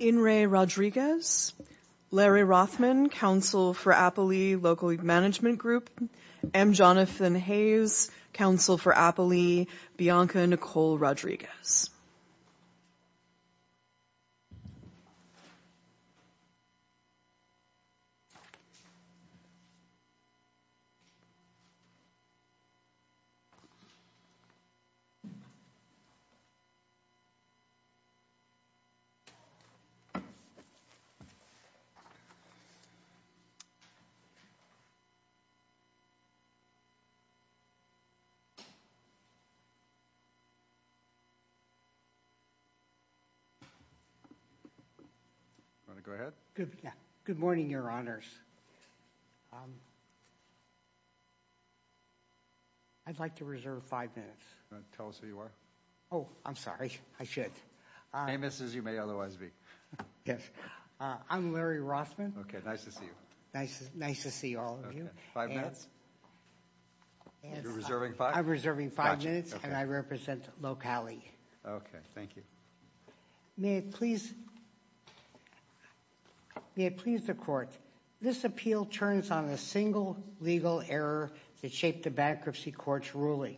In re Rodriguez, Larry Rothman, Council for Appalee Local Management Group, M. Jonathan Hayes, Council for Appalee, Bianca Nicole Rodriguez. Good morning, your honors. I'd like to reserve five minutes. Tell us who you are. Oh, I'm sorry. I should. Famous as you may otherwise be. Yes. I'm Larry Rothman. Okay. Nice to see you. Nice. Nice to see all of you. Five minutes. You're reserving five? I'm reserving five minutes, and I represent Locali. Okay. Thank you. May it please the court. This appeal turns on a single legal error that shaped the bankruptcy court's ruling.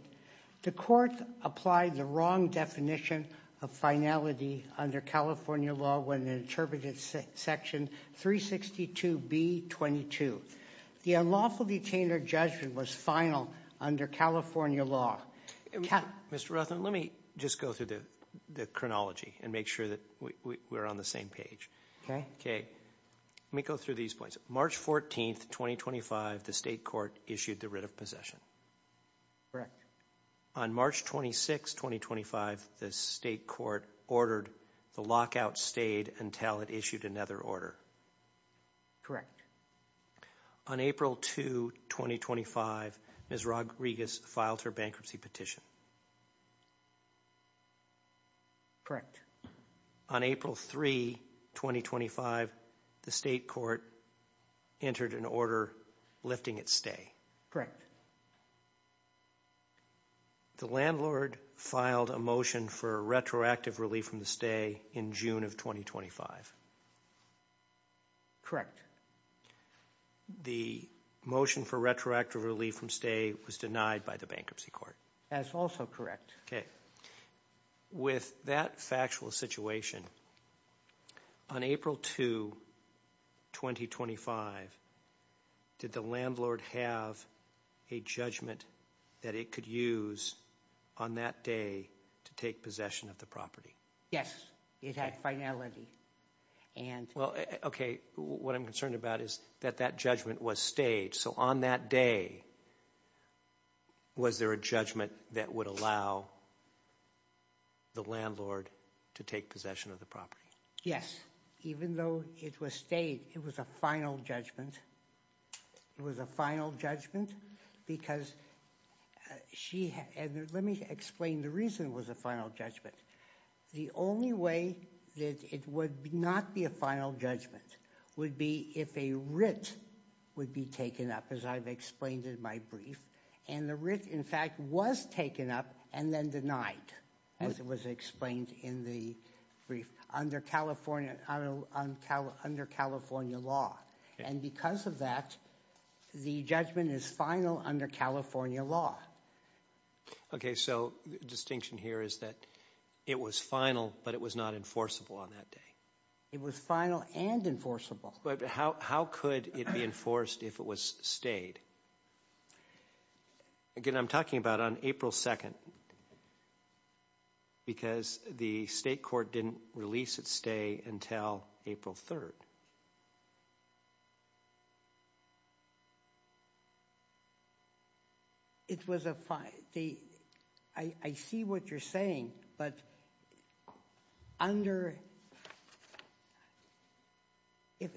The court applied the wrong definition of finality under California law when it interpreted section 362B.22. The unlawful detainer judgment was final under California law. Mr. Rothman, let me just go through the chronology and make sure that we're on the same page. Okay. Okay. Let me go through these points. March 14th, 2025, the state court issued the writ of possession. Correct. On March 26th, 2025, the state court ordered the lockout stayed until it issued another order. Correct. Correct. On April 2, 2025, Ms. Rodriguez filed her bankruptcy petition. Correct. On April 3, 2025, the state court entered an order lifting its stay. Correct. The landlord filed a motion for retroactive relief from the stay in June of 2025. Correct. The motion for retroactive relief from stay was denied by the bankruptcy court. That's also correct. Okay. With that factual situation, on April 2, 2025, did the landlord have a judgment that it could use on that day to take possession of the property? Yes. Yes. It had finality. Okay. What I'm concerned about is that that judgment was stayed, so on that day, was there a judgment that would allow the landlord to take possession of the property? Yes. Even though it was stayed, it was a final judgment. It was a final judgment because she had... Let me explain the reason it was a final judgment. The only way that it would not be a final judgment would be if a writ would be taken up, as I've explained in my brief, and the writ, in fact, was taken up and then denied, as it was explained in the brief, under California law. Because of that, the judgment is final under California law. Okay, so the distinction here is that it was final, but it was not enforceable on that day. It was final and enforceable. But how could it be enforced if it was stayed? Again, I'm talking about on April 2nd, because the state court didn't release its stay until April 3rd. It was a... I see what you're saying, but under... Okay.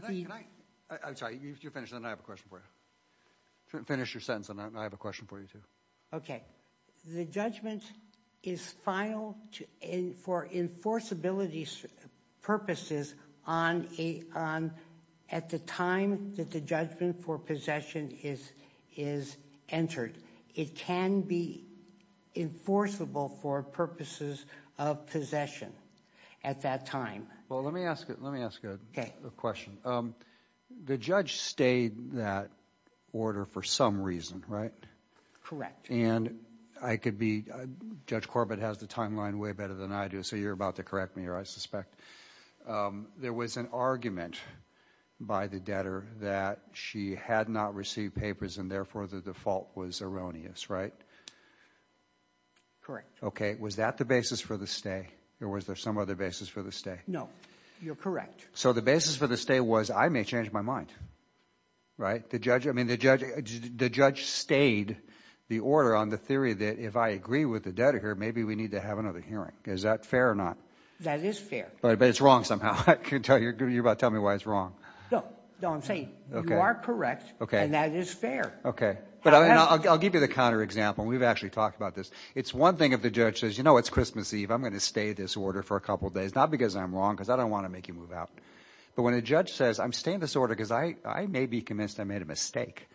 Can I... I'm sorry, you finish and then I have a question for you. Finish your sentence and then I have a question for you, too. Okay. The judgment is final for enforceability purposes at the time that the judgment for possession is entered. It can be enforceable for purposes of possession at that time. Well, let me ask a question. The judge stayed that order for some reason, right? Correct. And I could be... Judge Corbett has the timeline way better than I do, so you're about to correct me here, I suspect. There was an argument by the debtor that she had not received papers and therefore the default was erroneous, right? Correct. Okay. Was that the basis for the stay or was there some other basis for the stay? No. You're correct. So the basis for the stay was I may change my mind, right? The judge stayed the order on the theory that if I agree with the debtor here, maybe we need to have another hearing. Is that fair or not? That is fair. But it's wrong somehow. You're about to tell me why it's wrong. No. No, I'm saying you are correct and that is fair. Okay. I'll give you the counterexample. We've actually talked about this. It's one thing if the judge says, you know, it's Christmas Eve. I'm going to stay this order for a couple of days, not because I'm wrong because I don't want to make you move out, but when a judge says, I'm staying this order because I may be convinced I made a mistake,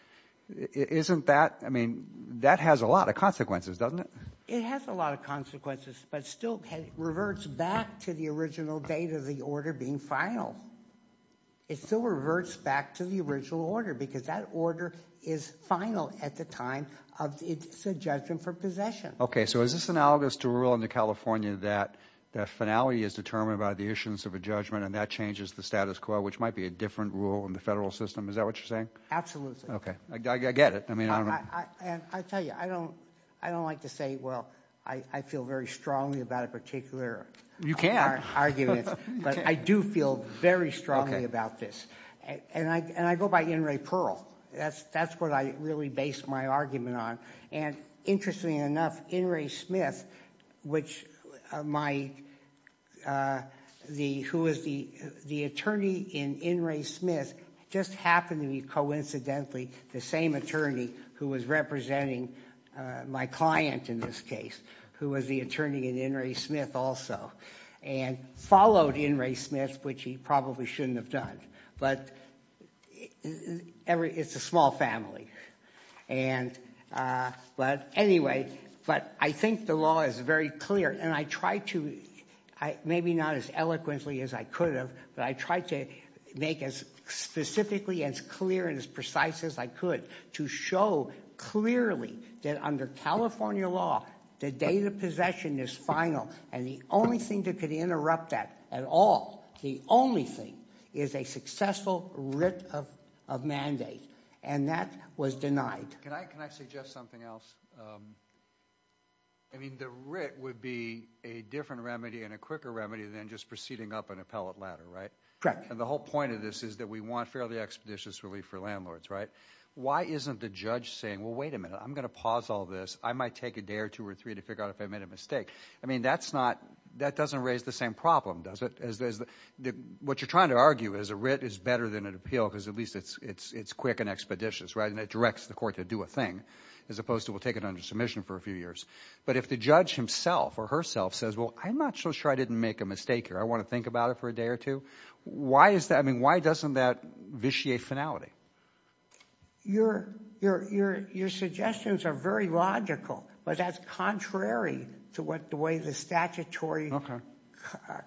isn't that, I mean, that has a lot of consequences, doesn't it? It has a lot of consequences but still reverts back to the original date of the order being final. It still reverts back to the original order because that order is final at the time of the judgment for possession. Okay. So is this analogous to a rule in New California that the finality is determined by the issuance of a judgment and that changes the status quo, which might be a different rule in the federal system? Is that what you're saying? Absolutely. Okay. I get it. I mean, I don't know. And I tell you, I don't like to say, well, I feel very strongly about a particular argument. You can. But I do feel very strongly about this. And I go by N. Ray Pearl. That's what I really base my argument on. And interestingly enough, N. Ray Smith, who was the attorney in N. Ray Smith, just happened to be coincidentally the same attorney who was representing my client in this case, who was the attorney in N. Ray Smith also. And followed N. Ray Smith, which he probably shouldn't have done. But it's a small family. But anyway, I think the law is very clear. And I try to, maybe not as eloquently as I could have, but I try to make as specifically and as clear and as precise as I could to show clearly that under California law, the date of possession is final. And the only thing that could interrupt that at all, the only thing, is a successful writ of mandate. And that was denied. Can I suggest something else? I mean, the writ would be a different remedy and a quicker remedy than just proceeding up an appellate ladder, right? Correct. And the whole point of this is that we want fairly expeditious relief for landlords, right? Why isn't the judge saying, well, wait a minute, I'm going to pause all this. I might take a day or two or three to figure out if I made a mistake. I mean, that's not, that doesn't raise the same problem, does it? What you're trying to argue is a writ is better than an appeal because at least it's quick and expeditious, right? And it directs the court to do a thing as opposed to we'll take it under submission for a few years. But if the judge himself or herself says, well, I'm not so sure I didn't make a mistake here. I want to think about it for a day or two. Why is that? I mean, why doesn't that vitiate finality? Your suggestions are very logical, but that's contrary to what the way the statutory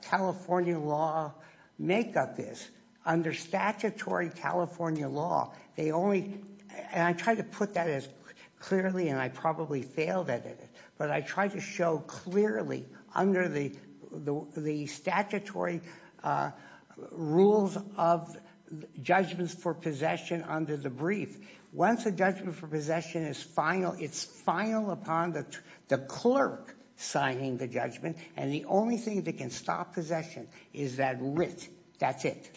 California law makeup is. Under statutory California law, they only, and I try to put that as clearly and I probably failed at it. But I try to show clearly under the statutory rules of judgments for possession under the brief. Once a judgment for possession is final, it's final upon the clerk signing the judgment. And the only thing that can stop possession is that writ. That's it.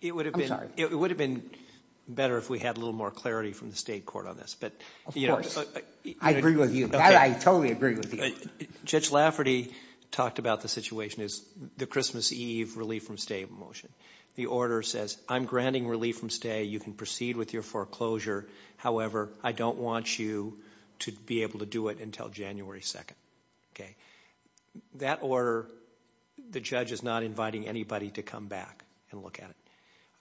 It would have been better if we had a little more clarity from the state court on this. Of course. I agree with you. I totally agree with you. Judge Lafferty talked about the situation as the Christmas Eve relief from stay motion. The order says I'm granting relief from stay. You can proceed with your foreclosure. However, I don't want you to be able to do it until January 2nd. That order, the judge is not inviting anybody to come back and look at it.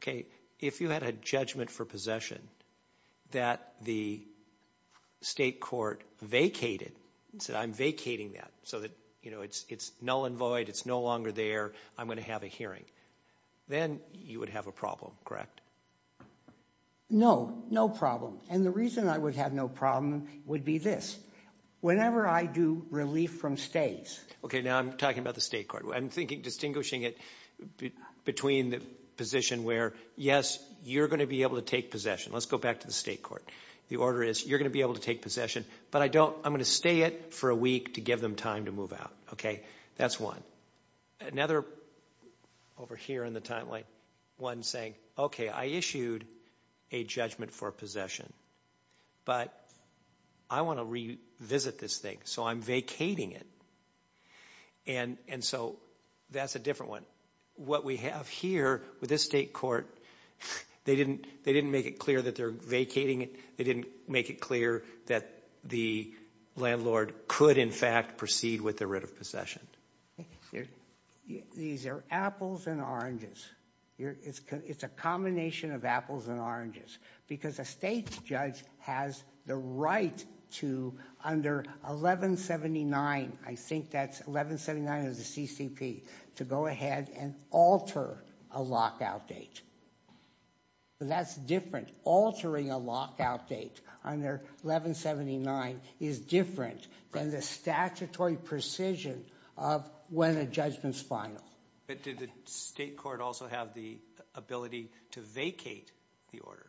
OK, if you had a judgment for possession that the state court vacated. So I'm vacating that so that, you know, it's it's null and void. It's no longer there. I'm going to have a hearing. Then you would have a problem, correct? No, no problem. And the reason I would have no problem would be this. Whenever I do relief from stays. OK, now I'm talking about the state court. I'm thinking distinguishing it between the position where, yes, you're going to be able to take possession. Let's go back to the state court. The order is you're going to be able to take possession, but I don't. I'm going to stay it for a week to give them time to move out. OK, that's one. Another over here in the timeline, one saying, OK, I issued a judgment for possession. But I want to revisit this thing. So I'm vacating it. And and so that's a different one. What we have here with this state court, they didn't they didn't make it clear that they're vacating it. They didn't make it clear that the landlord could, in fact, proceed with the writ of possession. These are apples and oranges. It's a combination of apples and oranges because a state judge has the right to under 1179. I think that's 1179 of the CCP to go ahead and alter a lockout date. That's different. Altering a lockout date under 1179 is different than the statutory precision of when a judgment's final. But did the state court also have the ability to vacate the order?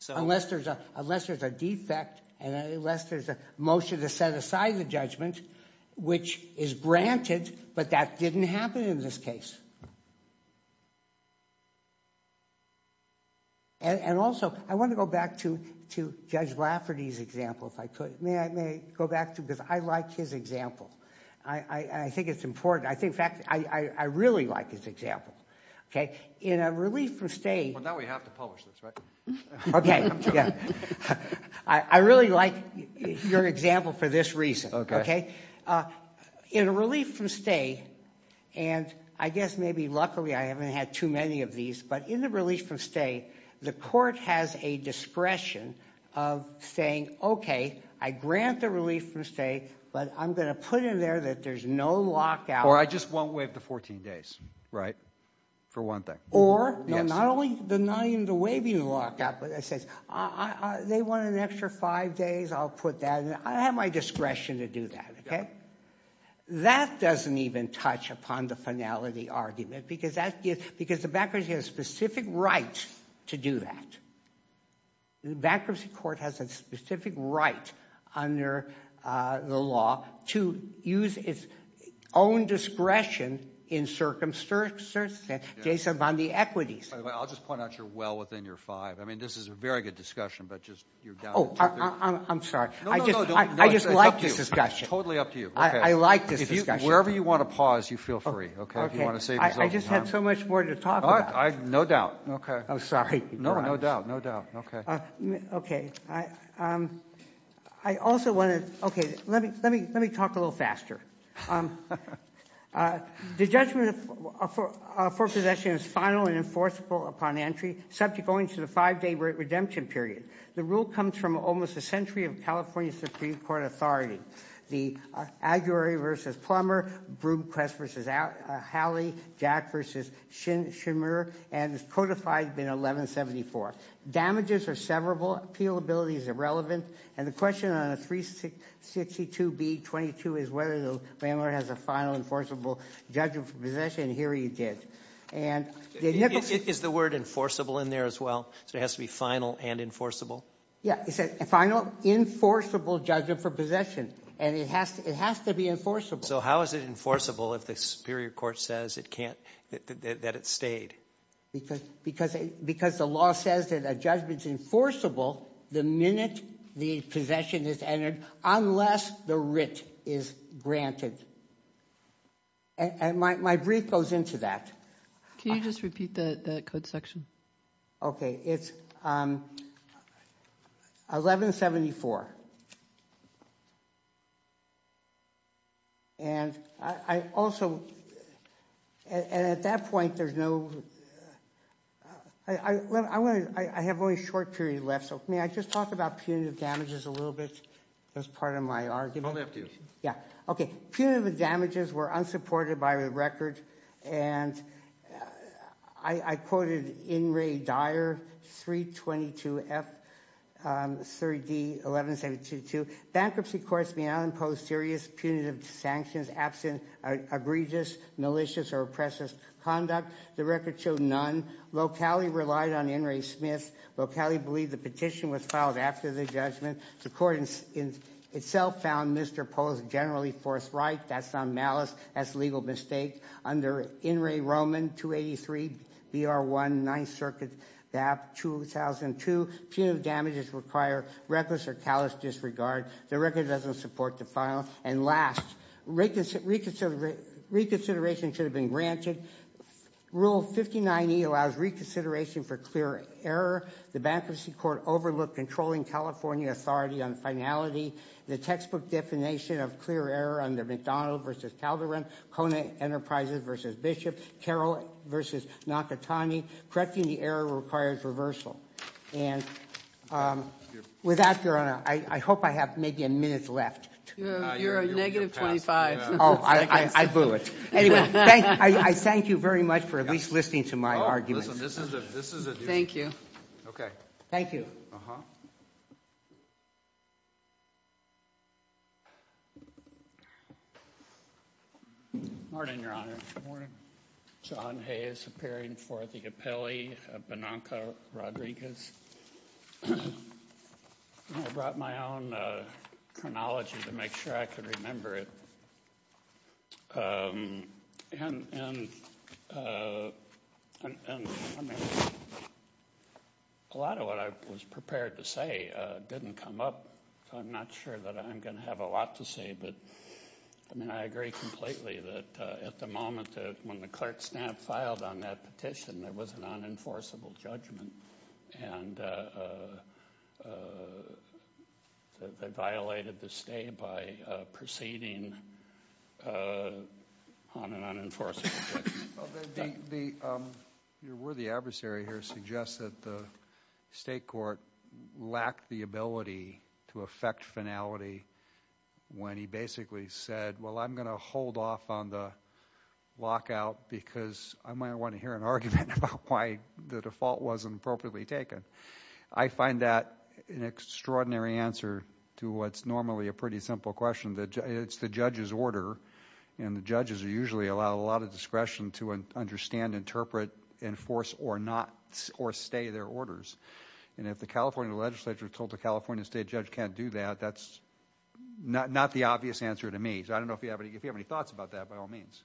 So unless there's a unless there's a defect and unless there's a motion to set aside the judgment, which is granted. But that didn't happen in this case. And also, I want to go back to to Judge Lafferty's example, if I could, may I may go back to because I like his example. I think it's important. I think, in fact, I really like his example. OK, in a relief from state. Now we have to publish this. OK. I really like your example for this reason. In a relief from state. And I guess maybe luckily I haven't had too many of these. But in the relief from state, the court has a discretion of saying, OK, I grant the relief from state, but I'm going to put in there that there's no lockout. Or I just won't waive the 14 days. Right. For one thing. Or not only the not even the waiving lockout, but it says they want an extra five days. I'll put that in. I have my discretion to do that. OK. That doesn't even touch upon the finality argument because the bankruptcy has a specific right to do that. The bankruptcy court has a specific right under the law to use its own discretion in circumstances based upon the equities. I'll just point out you're well within your five. I mean, this is a very good discussion, but just you're down to two. Oh, I'm sorry. No, no, no. I just like this discussion. It's totally up to you. I like this discussion. Wherever you want to pause, you feel free. I just have so much more to talk about. No doubt. OK. I'm sorry. No, no doubt. OK. OK. I also want to. Let me let me let me talk a little faster. The judgment for possession is final and enforceable upon entry subject only to the five day redemption period. The rule comes from almost a century of California Supreme Court authority. The Aguilera versus Plummer, Broomcrest versus Halley, Jack versus Shimmer, and codified in 1174. Damages are severable. Appealability is irrelevant. And the question on a 362B22 is whether the landlord has a final enforceable judgment for possession. And here he did. And. Is the word enforceable in there as well? So it has to be final and enforceable. Yeah. It's a final enforceable judgment for possession. And it has to it has to be enforceable. So how is it enforceable if the superior court says it can't that it stayed? Because because because the law says that a judgment is enforceable the minute the possession is entered, unless the writ is granted. And my brief goes into that. Can you just repeat the code section? Okay, it's 1174. And I also. And at that point, there's no. I have only a short period left. So may I just talk about punitive damages a little bit as part of my argument? I'll leave it to you. Yeah. Okay. Punitive damages were unsupported by the record. And. I quoted in Ray Dyer 322 F. 3D 1172 to bankruptcy courts. May I impose serious punitive sanctions absent egregious, malicious or oppressive conduct? The record showed none. Locali relied on Henry Smith. Locali believed the petition was filed after the judgment. The court in itself found Mr. Pose generally forthright. That's not malice as legal mistake. Under in Ray Roman 283 BR 1 9th Circuit. That 2002 punitive damages require reckless or callous disregard. The record doesn't support the file. And last reconsider reconsideration should have been granted. Rule 59E allows reconsideration for clear error. The bankruptcy court overlooked controlling California authority on finality. The textbook definition of clear error under McDonald versus Calderon. Kona Enterprises versus Bishop. Carol versus Nakatani. Correcting the error requires reversal. Without your honor. I hope I have maybe a minute left. You're a negative 25. Oh, I blew it. Anyway. I thank you very much for at least listening to my argument. This is a. Thank you. Okay. Thank you. Morning, your honor. John Hayes appearing for the appellee. Bonanca Rodriguez. I brought my own chronology to make sure I could remember it. And. And. A lot of what I was prepared to say didn't come up. I'm not sure that I'm going to have a lot to say, but. I mean, I agree completely that at the moment. When the clerk's stamp filed on that petition, there was an unenforceable judgment. And. They violated the state by proceeding. On an unenforceable. The. Your worthy adversary here suggests that the state court. Lacked the ability to affect finality. When he basically said, well, I'm going to hold off on the. Lockout because I might want to hear an argument about why the default wasn't appropriately taken. I find that an extraordinary answer to what's normally a pretty simple question that it's the judge's order. And the judges are usually allow a lot of discretion to understand, interpret, enforce or not or stay their orders. And if the California legislature told the California state judge can't do that, that's. Not not the obvious answer to me. I don't know if you have any if you have any thoughts about that, by all means.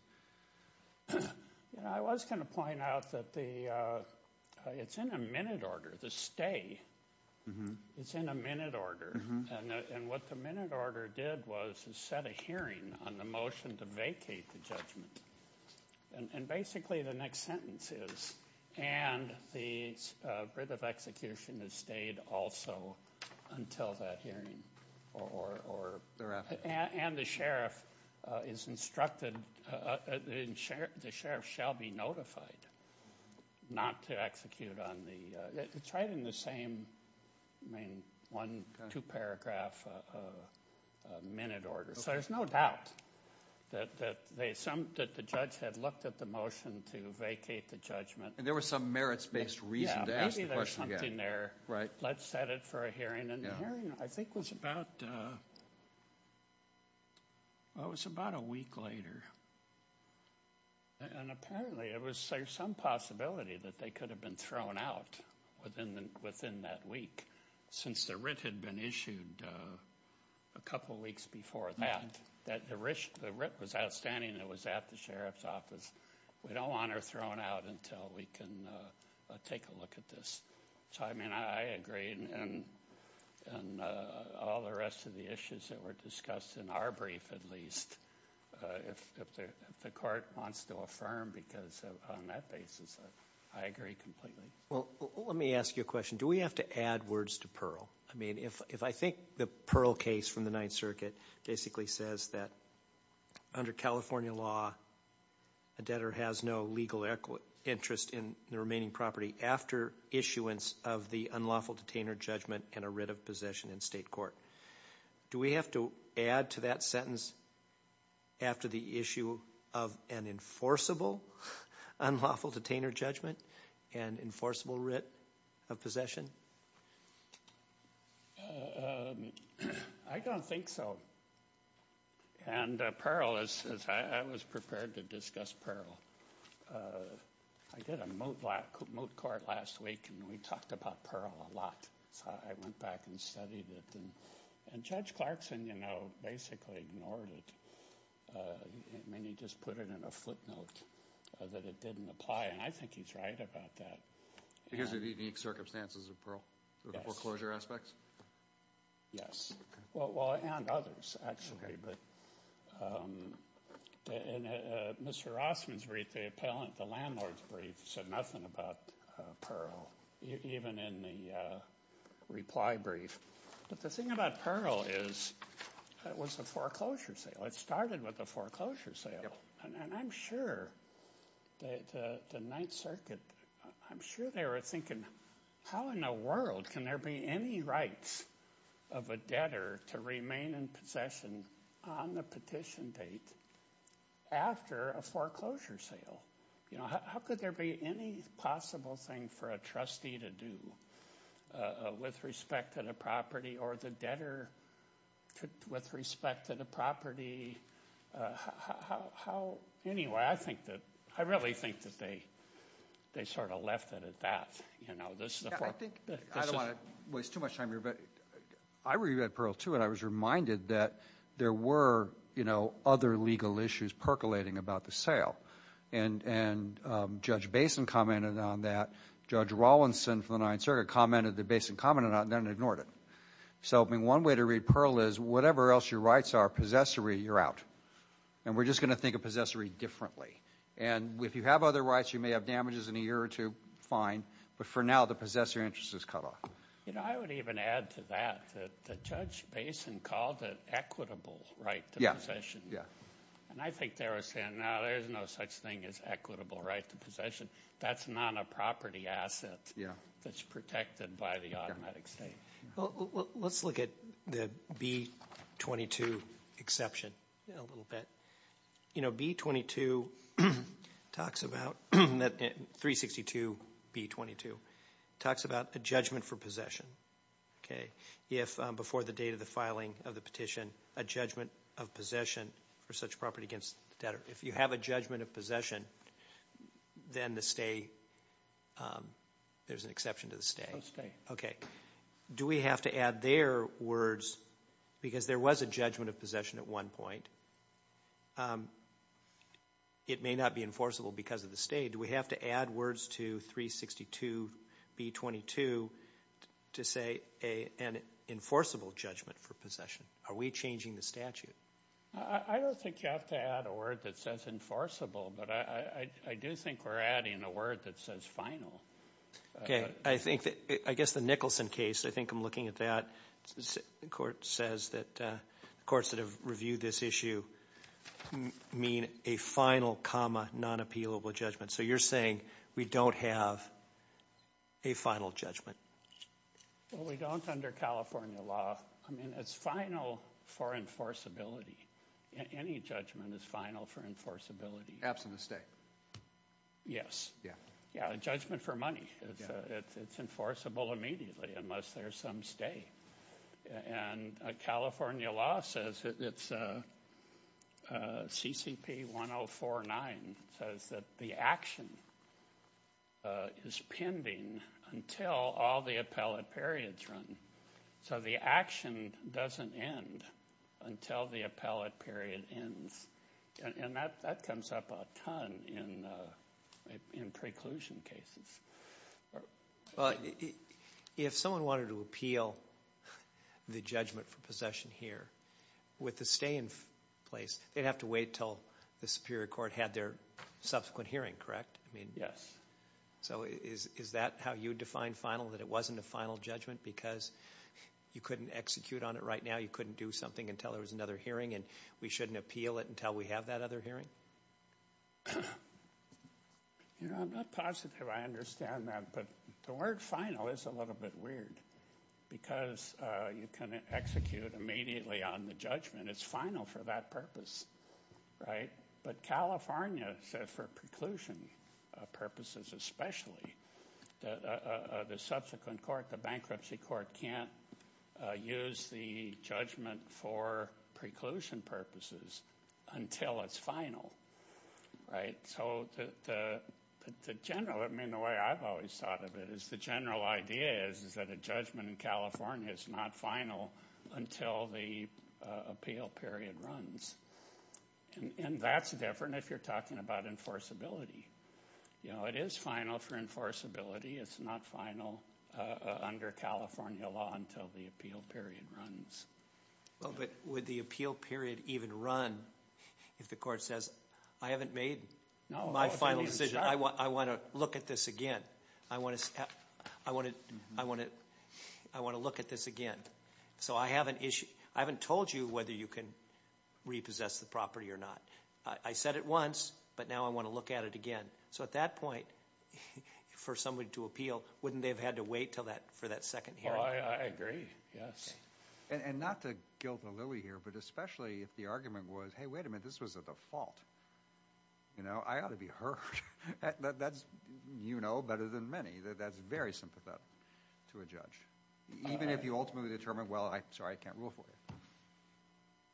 I was going to point out that the. It's in a minute order to stay. It's in a minute order. And what the minute order did was set a hearing on the motion to vacate the judgment. And basically, the next sentence is. And the. Of execution has stayed also. Until that hearing. Or. And the sheriff. Is instructed. The sheriff shall be notified. Not to execute on the. It's right in the same. I mean, one, two paragraph. Minute order. So there's no doubt. That that they some that the judge had looked at the motion to vacate the judgment. And there were some merits based reason to ask. There. Right. Let's set it for a hearing and hearing. I think was about. I was about a week later. And apparently it was some possibility that they could have been thrown out. Within the within that week. Since the writ had been issued. A couple of weeks before that. That the writ was outstanding. It was at the sheriff's office. We don't want her thrown out until we can. Take a look at this. So, I mean, I agree. And. And all the rest of the issues that were discussed in our brief, at least. If the court wants to affirm. Because on that basis. I agree completely. Well, let me ask you a question. Do we have to add words to Pearl? I mean, if I think the Pearl case from the Ninth Circuit. Basically says that. Under California law. A debtor has no legal equity interest in the remaining property. After issuance of the unlawful detainer judgment. And a writ of possession in state court. Do we have to add to that sentence? After the issue. Of an enforceable. Unlawful detainer judgment. And enforceable writ. Of possession. I don't think so. And Pearl is. I was prepared to discuss Pearl. I did a moat. Moat court last week. And we talked about Pearl a lot. I went back and studied it. And Judge Clarkson, you know, basically ignored it. I mean, he just put it in a footnote. That it didn't apply. And I think he's right about that. Because of the circumstances of Pearl. The foreclosure aspects. Yes. Well, and others, actually. Mr. Rossman's brief. The appellant. The landlord's brief. Said nothing about Pearl. Even in the reply brief. But the thing about Pearl is. It was a foreclosure sale. It started with a foreclosure sale. And I'm sure. That the ninth circuit. I'm sure they were thinking. How in the world can there be any rights. Of a debtor to remain in possession. On the petition date. After a foreclosure sale. How could there be any possible thing. For a trustee to do. With respect to the property. Or the debtor. With respect to the property. How. Anyway. I think that. I really think that they. They sort of left it at that. I think. I don't want to. Waste too much time. I read Pearl too. And I was reminded that. There were. You know. Other legal issues. Percolating about the sale. And. Judge Basin commented on that. Judge Rawlinson. For the ninth circuit. Commented that Basin commented on it. And then ignored it. So. I mean. One way to read Pearl is. Whatever else your rights are. Possessory. You're out. And we're just going to think of. Possessory differently. And. If you have other rights. You may have damages in a year or two. Fine. But for now. The possessor interest is cut off. You know. I would even add to that. That Judge Basin. Called it equitable. Right. Yeah. Possession. Yeah. And I think they were saying. There's no such thing as equitable. Right. Possession. That's not a property asset. Yeah. That's protected by the automatic state. Well. Let's look at. The. B. Exception. A little bit. You know. B. 22. Talks about. 362. B. 22. Talks about. A judgment for possession. Okay. If. Before the date of the filing. Of the petition. A judgment. Of possession. For such property. Against the debtor. If you have a judgment. Of possession. Then the stay. There's an exception. To the stay. Okay. Do we have to add their. Words. Because there was a judgment. Of possession. At one point. It may not be enforceable. Because of the state. Do we have to add. Words to. 362. B. 22. To say. A. And. Enforceable. Judgment. For possession. Are we changing. The statute. I don't think. You have to add. A word that says. Enforceable. But I. I do think. We're adding. A word that says. Final. Okay. I think that. I guess. The Nicholson case. I think I'm looking. At that. The court. Says that. Of course. That have reviewed. This issue. Mean. A final. Comma. Non appealable. Judgment. So you're saying. We don't have. A final. Judgment. We don't. Under California law. I mean. It's final. For enforceability. Any judgment. Is final. For enforceability. Absolute. Stay. Yes. Yeah. Yeah. Judgment for money. It's enforceable. Immediately. Unless there's some. Stay. And. California law. Says. It's. C. C. P. 104. Nine. It says that. The action. Is. Pending. Until. All the appellate. Periods. Run. So the action. Doesn't end. Until. The appellate. Period. Ends. And. That. Comes up. A ton. In. Preclusion. Cases. If. Someone. Wanted. To appeal. The judgment. Possession. Here. With the. Stay. In place. They'd have to wait till. The superior court had their. Subsequent hearing correct. I mean. Yes. So is. Is that. How you define final that it wasn't a final judgment. Because. You couldn't execute on it right now. You couldn't do something until there was another hearing. And. We shouldn't appeal it until we have that other hearing. You know. I'm not positive. I understand that. But. The word final. Is a little bit weird. Because. You can. Execute immediately. On the judgment. It's final for that purpose. Right. But California. Said for preclusion. Purposes. Especially. The subsequent court. The bankruptcy court. Can't. Use the judgment. For preclusion purposes. Until it's final. Right. So. The general. I mean. The way I've always thought of it. Is the general idea. Is. Is that a judgment. Is not final. Until the. Appeal. Runs. And. That's different. If you're talking about enforceability. You know. It is final. For enforceability. It's not final. Under California law. Until the appeal. Period. Runs. Well. But. With the appeal. Period. Even run. If the court says. I haven't made. No. My final decision. I want. I want to. Look at this again. So. I have an issue. I haven't told you. Whether you can. Repossess the property. Or not. I said it once. But now. I want to look at it again. So. At that point. For somebody. To appeal. Wouldn't. They've had to wait. Till that. For that second. I agree. Yes. And. Not to. Guiltily. Here. But especially. If the argument was. Hey. Wait a minute. This was a default. You know. I ought to be hurt. That's. You know. Better than many. That's very. Sympathetic. To a judge. Even if you ultimately determine. I'm sorry. I can't rule for you.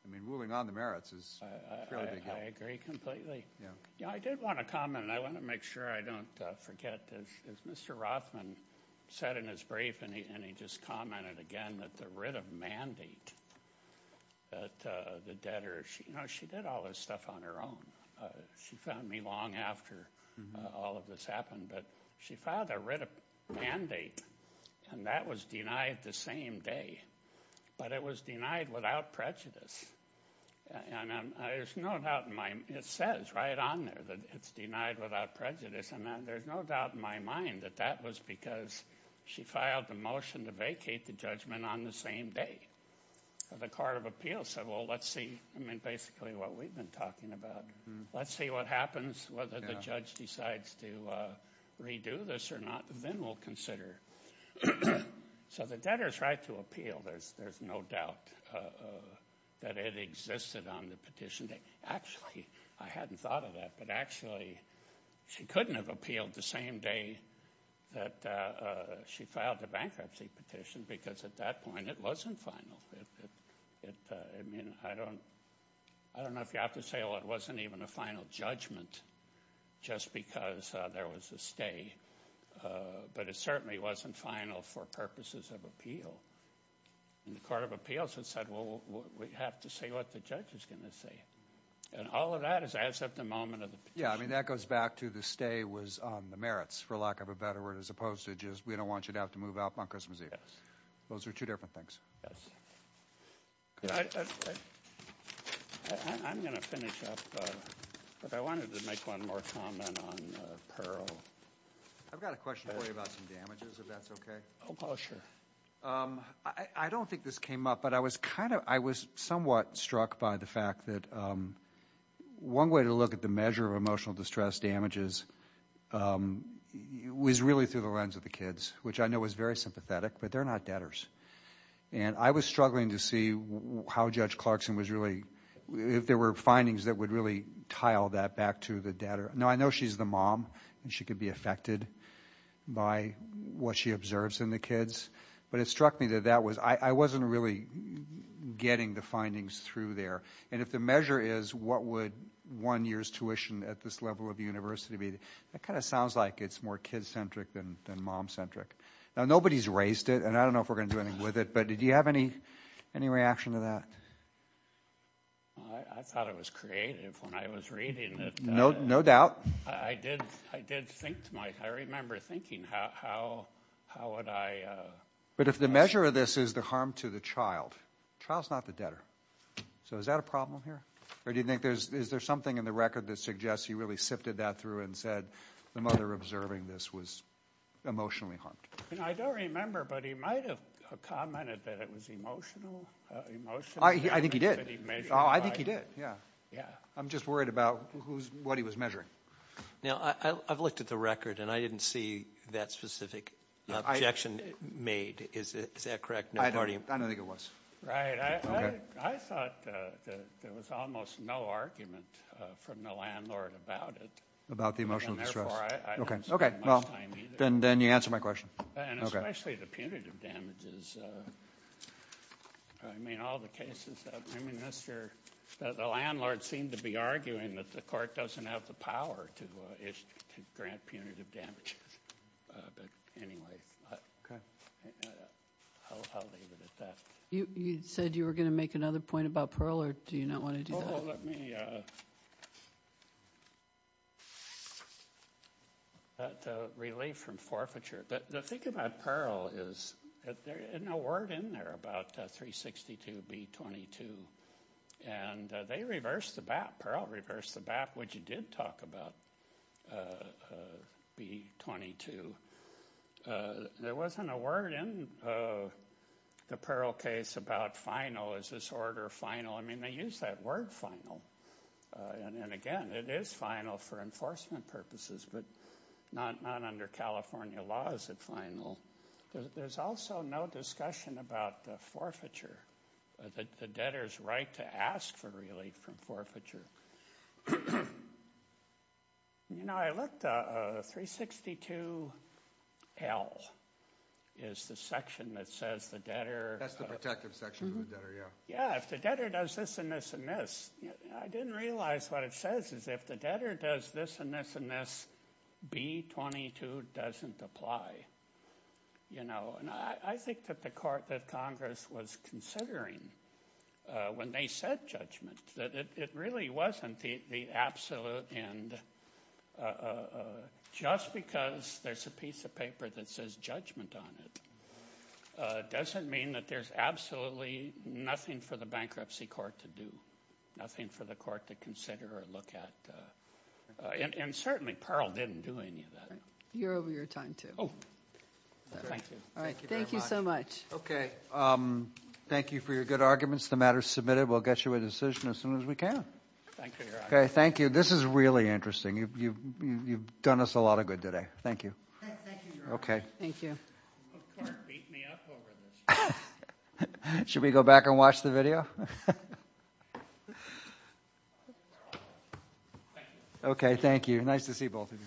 I mean. Moving on. The merits is. I agree. Completely. Yeah. Yeah. I did want to comment. I want to make sure. I don't forget. As Mr. Rothman. Said in his brief. And he. And he just commented. Again. That the writ of mandate. That the debtor. She. You know. She did all this stuff. On her own. She found me long. After. All of this. Happened. But. She filed. A writ of mandate. And that was denied. The same day. But it was denied. Without prejudice. And. There's no doubt. In my. It says. Right on there. That it's denied. Without prejudice. And then. There's no doubt. In my mind. That that was. Because. She filed the motion. To vacate the judgment. On the same day. The court of appeals. Said. Well. Let's see. I mean. Basically. What we've been talking about. Let's see what happens. Whether the judge decides to. Redo this or not. Then we'll consider. So. The debtor's right to appeal. There's. There's no doubt. That it existed. On the petition day. Actually. I hadn't thought of that. But actually. She couldn't have appealed. The same day. That. She filed the bankruptcy petition. Because at that point. It wasn't final. It. I mean. I don't. I don't know. If you have to say. Well. It wasn't even a final judgment. Just because. There was a stay. But it certainly. Wasn't final. For purposes of appeal. In the court of appeals. And said. Well. We have to say. What the judge is going to say. And all of that. Is as of the moment. Of the. Yeah. I mean. That goes back to the stay. Was on the merits. For lack of a better word. As opposed to just. We don't want you to have to move out. On Christmas Eve. Yes. Those are two different things. I. I'm going to finish up. But I wanted to make one more comment. On. Pearl. I've got a question for you. About some damages. If that's okay. Oh. Sure. I don't think this came up. But I was kind of. I was. Somewhat. Struck by the fact. That. One way to look at the measure. Of emotional distress. Damages. Was really through the lens. Of the kids. Which I know. Was very sympathetic. But they're not debtors. And. I was struggling to see. How. Judge Clarkson. Was really. If there were findings. That would really. Tile that. Back to the debtor. No. I know she's the mom. And she could be affected. By. What she observes. In the kids. But it struck me. That that was. I wasn't really. Getting the findings. Through there. And if the measure is. What would. One year's tuition. At this level. Of university. That kind of sounds like. It's more kids centric. Than. Mom centric. Now. Nobody's raised it. And I don't know. If we're going to do anything. With it. But did you have any. Any reaction to that. I thought it was creative. When I was reading it. No. No doubt. I did. I did. Think to my. I remember thinking. How. How would I. But if the measure of this. Is the harm to the child. Child's not the debtor. So is that a problem here. Or do you think. There's. Is there something in the record. That suggests. He really sifted that through. And said. The mother observing. This was. Emotionally harmed. And I don't remember. But he might have. Commented. That it was emotional. Emotion. I think he did. I think he did. Yeah. Yeah. I'm just worried about. Who's what he was measuring. Now. I've looked at the record. And I didn't see. That specific. Objection made. Is it. Is that correct. No party. I don't think it was. Right. I thought. That there was almost. No argument. From the landlord. About it. About the emotional distress. Okay. Okay. Well. Then. Then you answer my question. And especially the punitive damages. I mean. All the cases. I mean. The landlord. Seemed to be arguing. That the court. Doesn't have the power. To grant punitive. Damages. But anyway. Okay. I'll. Leave it at that. You. You said. You were going to make. Another point. About parole. Or do you. Not want to do. Let me. That. Relief. From forfeiture. But. The thing. About parole. Is. That there. Ain't no word. In there. About 362. B22. And. They reverse the bat. Parole. Reverse the bat. Which you did. Talk about. B22. There wasn't. A word. In. The parole. Case. About final. Is this order. Final. I mean. They use that word. Final. And. Again. It is final. For enforcement. Purposes. But. Not. Not. Under California. Laws. At final. There's. Also. No discussion. About. Forfeiture. The debtors. Right. To ask. For relief. From forfeiture. You know. I looked. 362. L. Is the section. That says. The debtor. That's the protective section. Yeah. If the debtor does this. And this. And this. I didn't realize. What it says. Is if the debtor. Does this. And this. And this. B22. Doesn't apply. You know. And I. I think that the court. That Congress. Was considering. Uh. When they said. Judgment. That it. It really wasn't. The absolute. And. Uh. Uh. Just because. There's a piece of paper. That says. Judgment on it. Uh. Doesn't mean. That there's absolutely. Nothing for the bankruptcy court. To do. Nothing for the court. To consider. Or look at. Uh. Uh. And. And certainly. Pearl didn't do any of that. You're over your time too. Thank you. All right. Thank you so much. Okay. Um. Thank you for your good arguments. The matter submitted. We'll get you a decision. As soon as we can. Thank you. Okay. Thank you. This is really interesting. You've. You've. Done us a lot of good today. Thank you. Okay. Thank you. Of course. Beat me up over this. Should we go back and watch the video? Okay. Thank you. Nice to see both of you.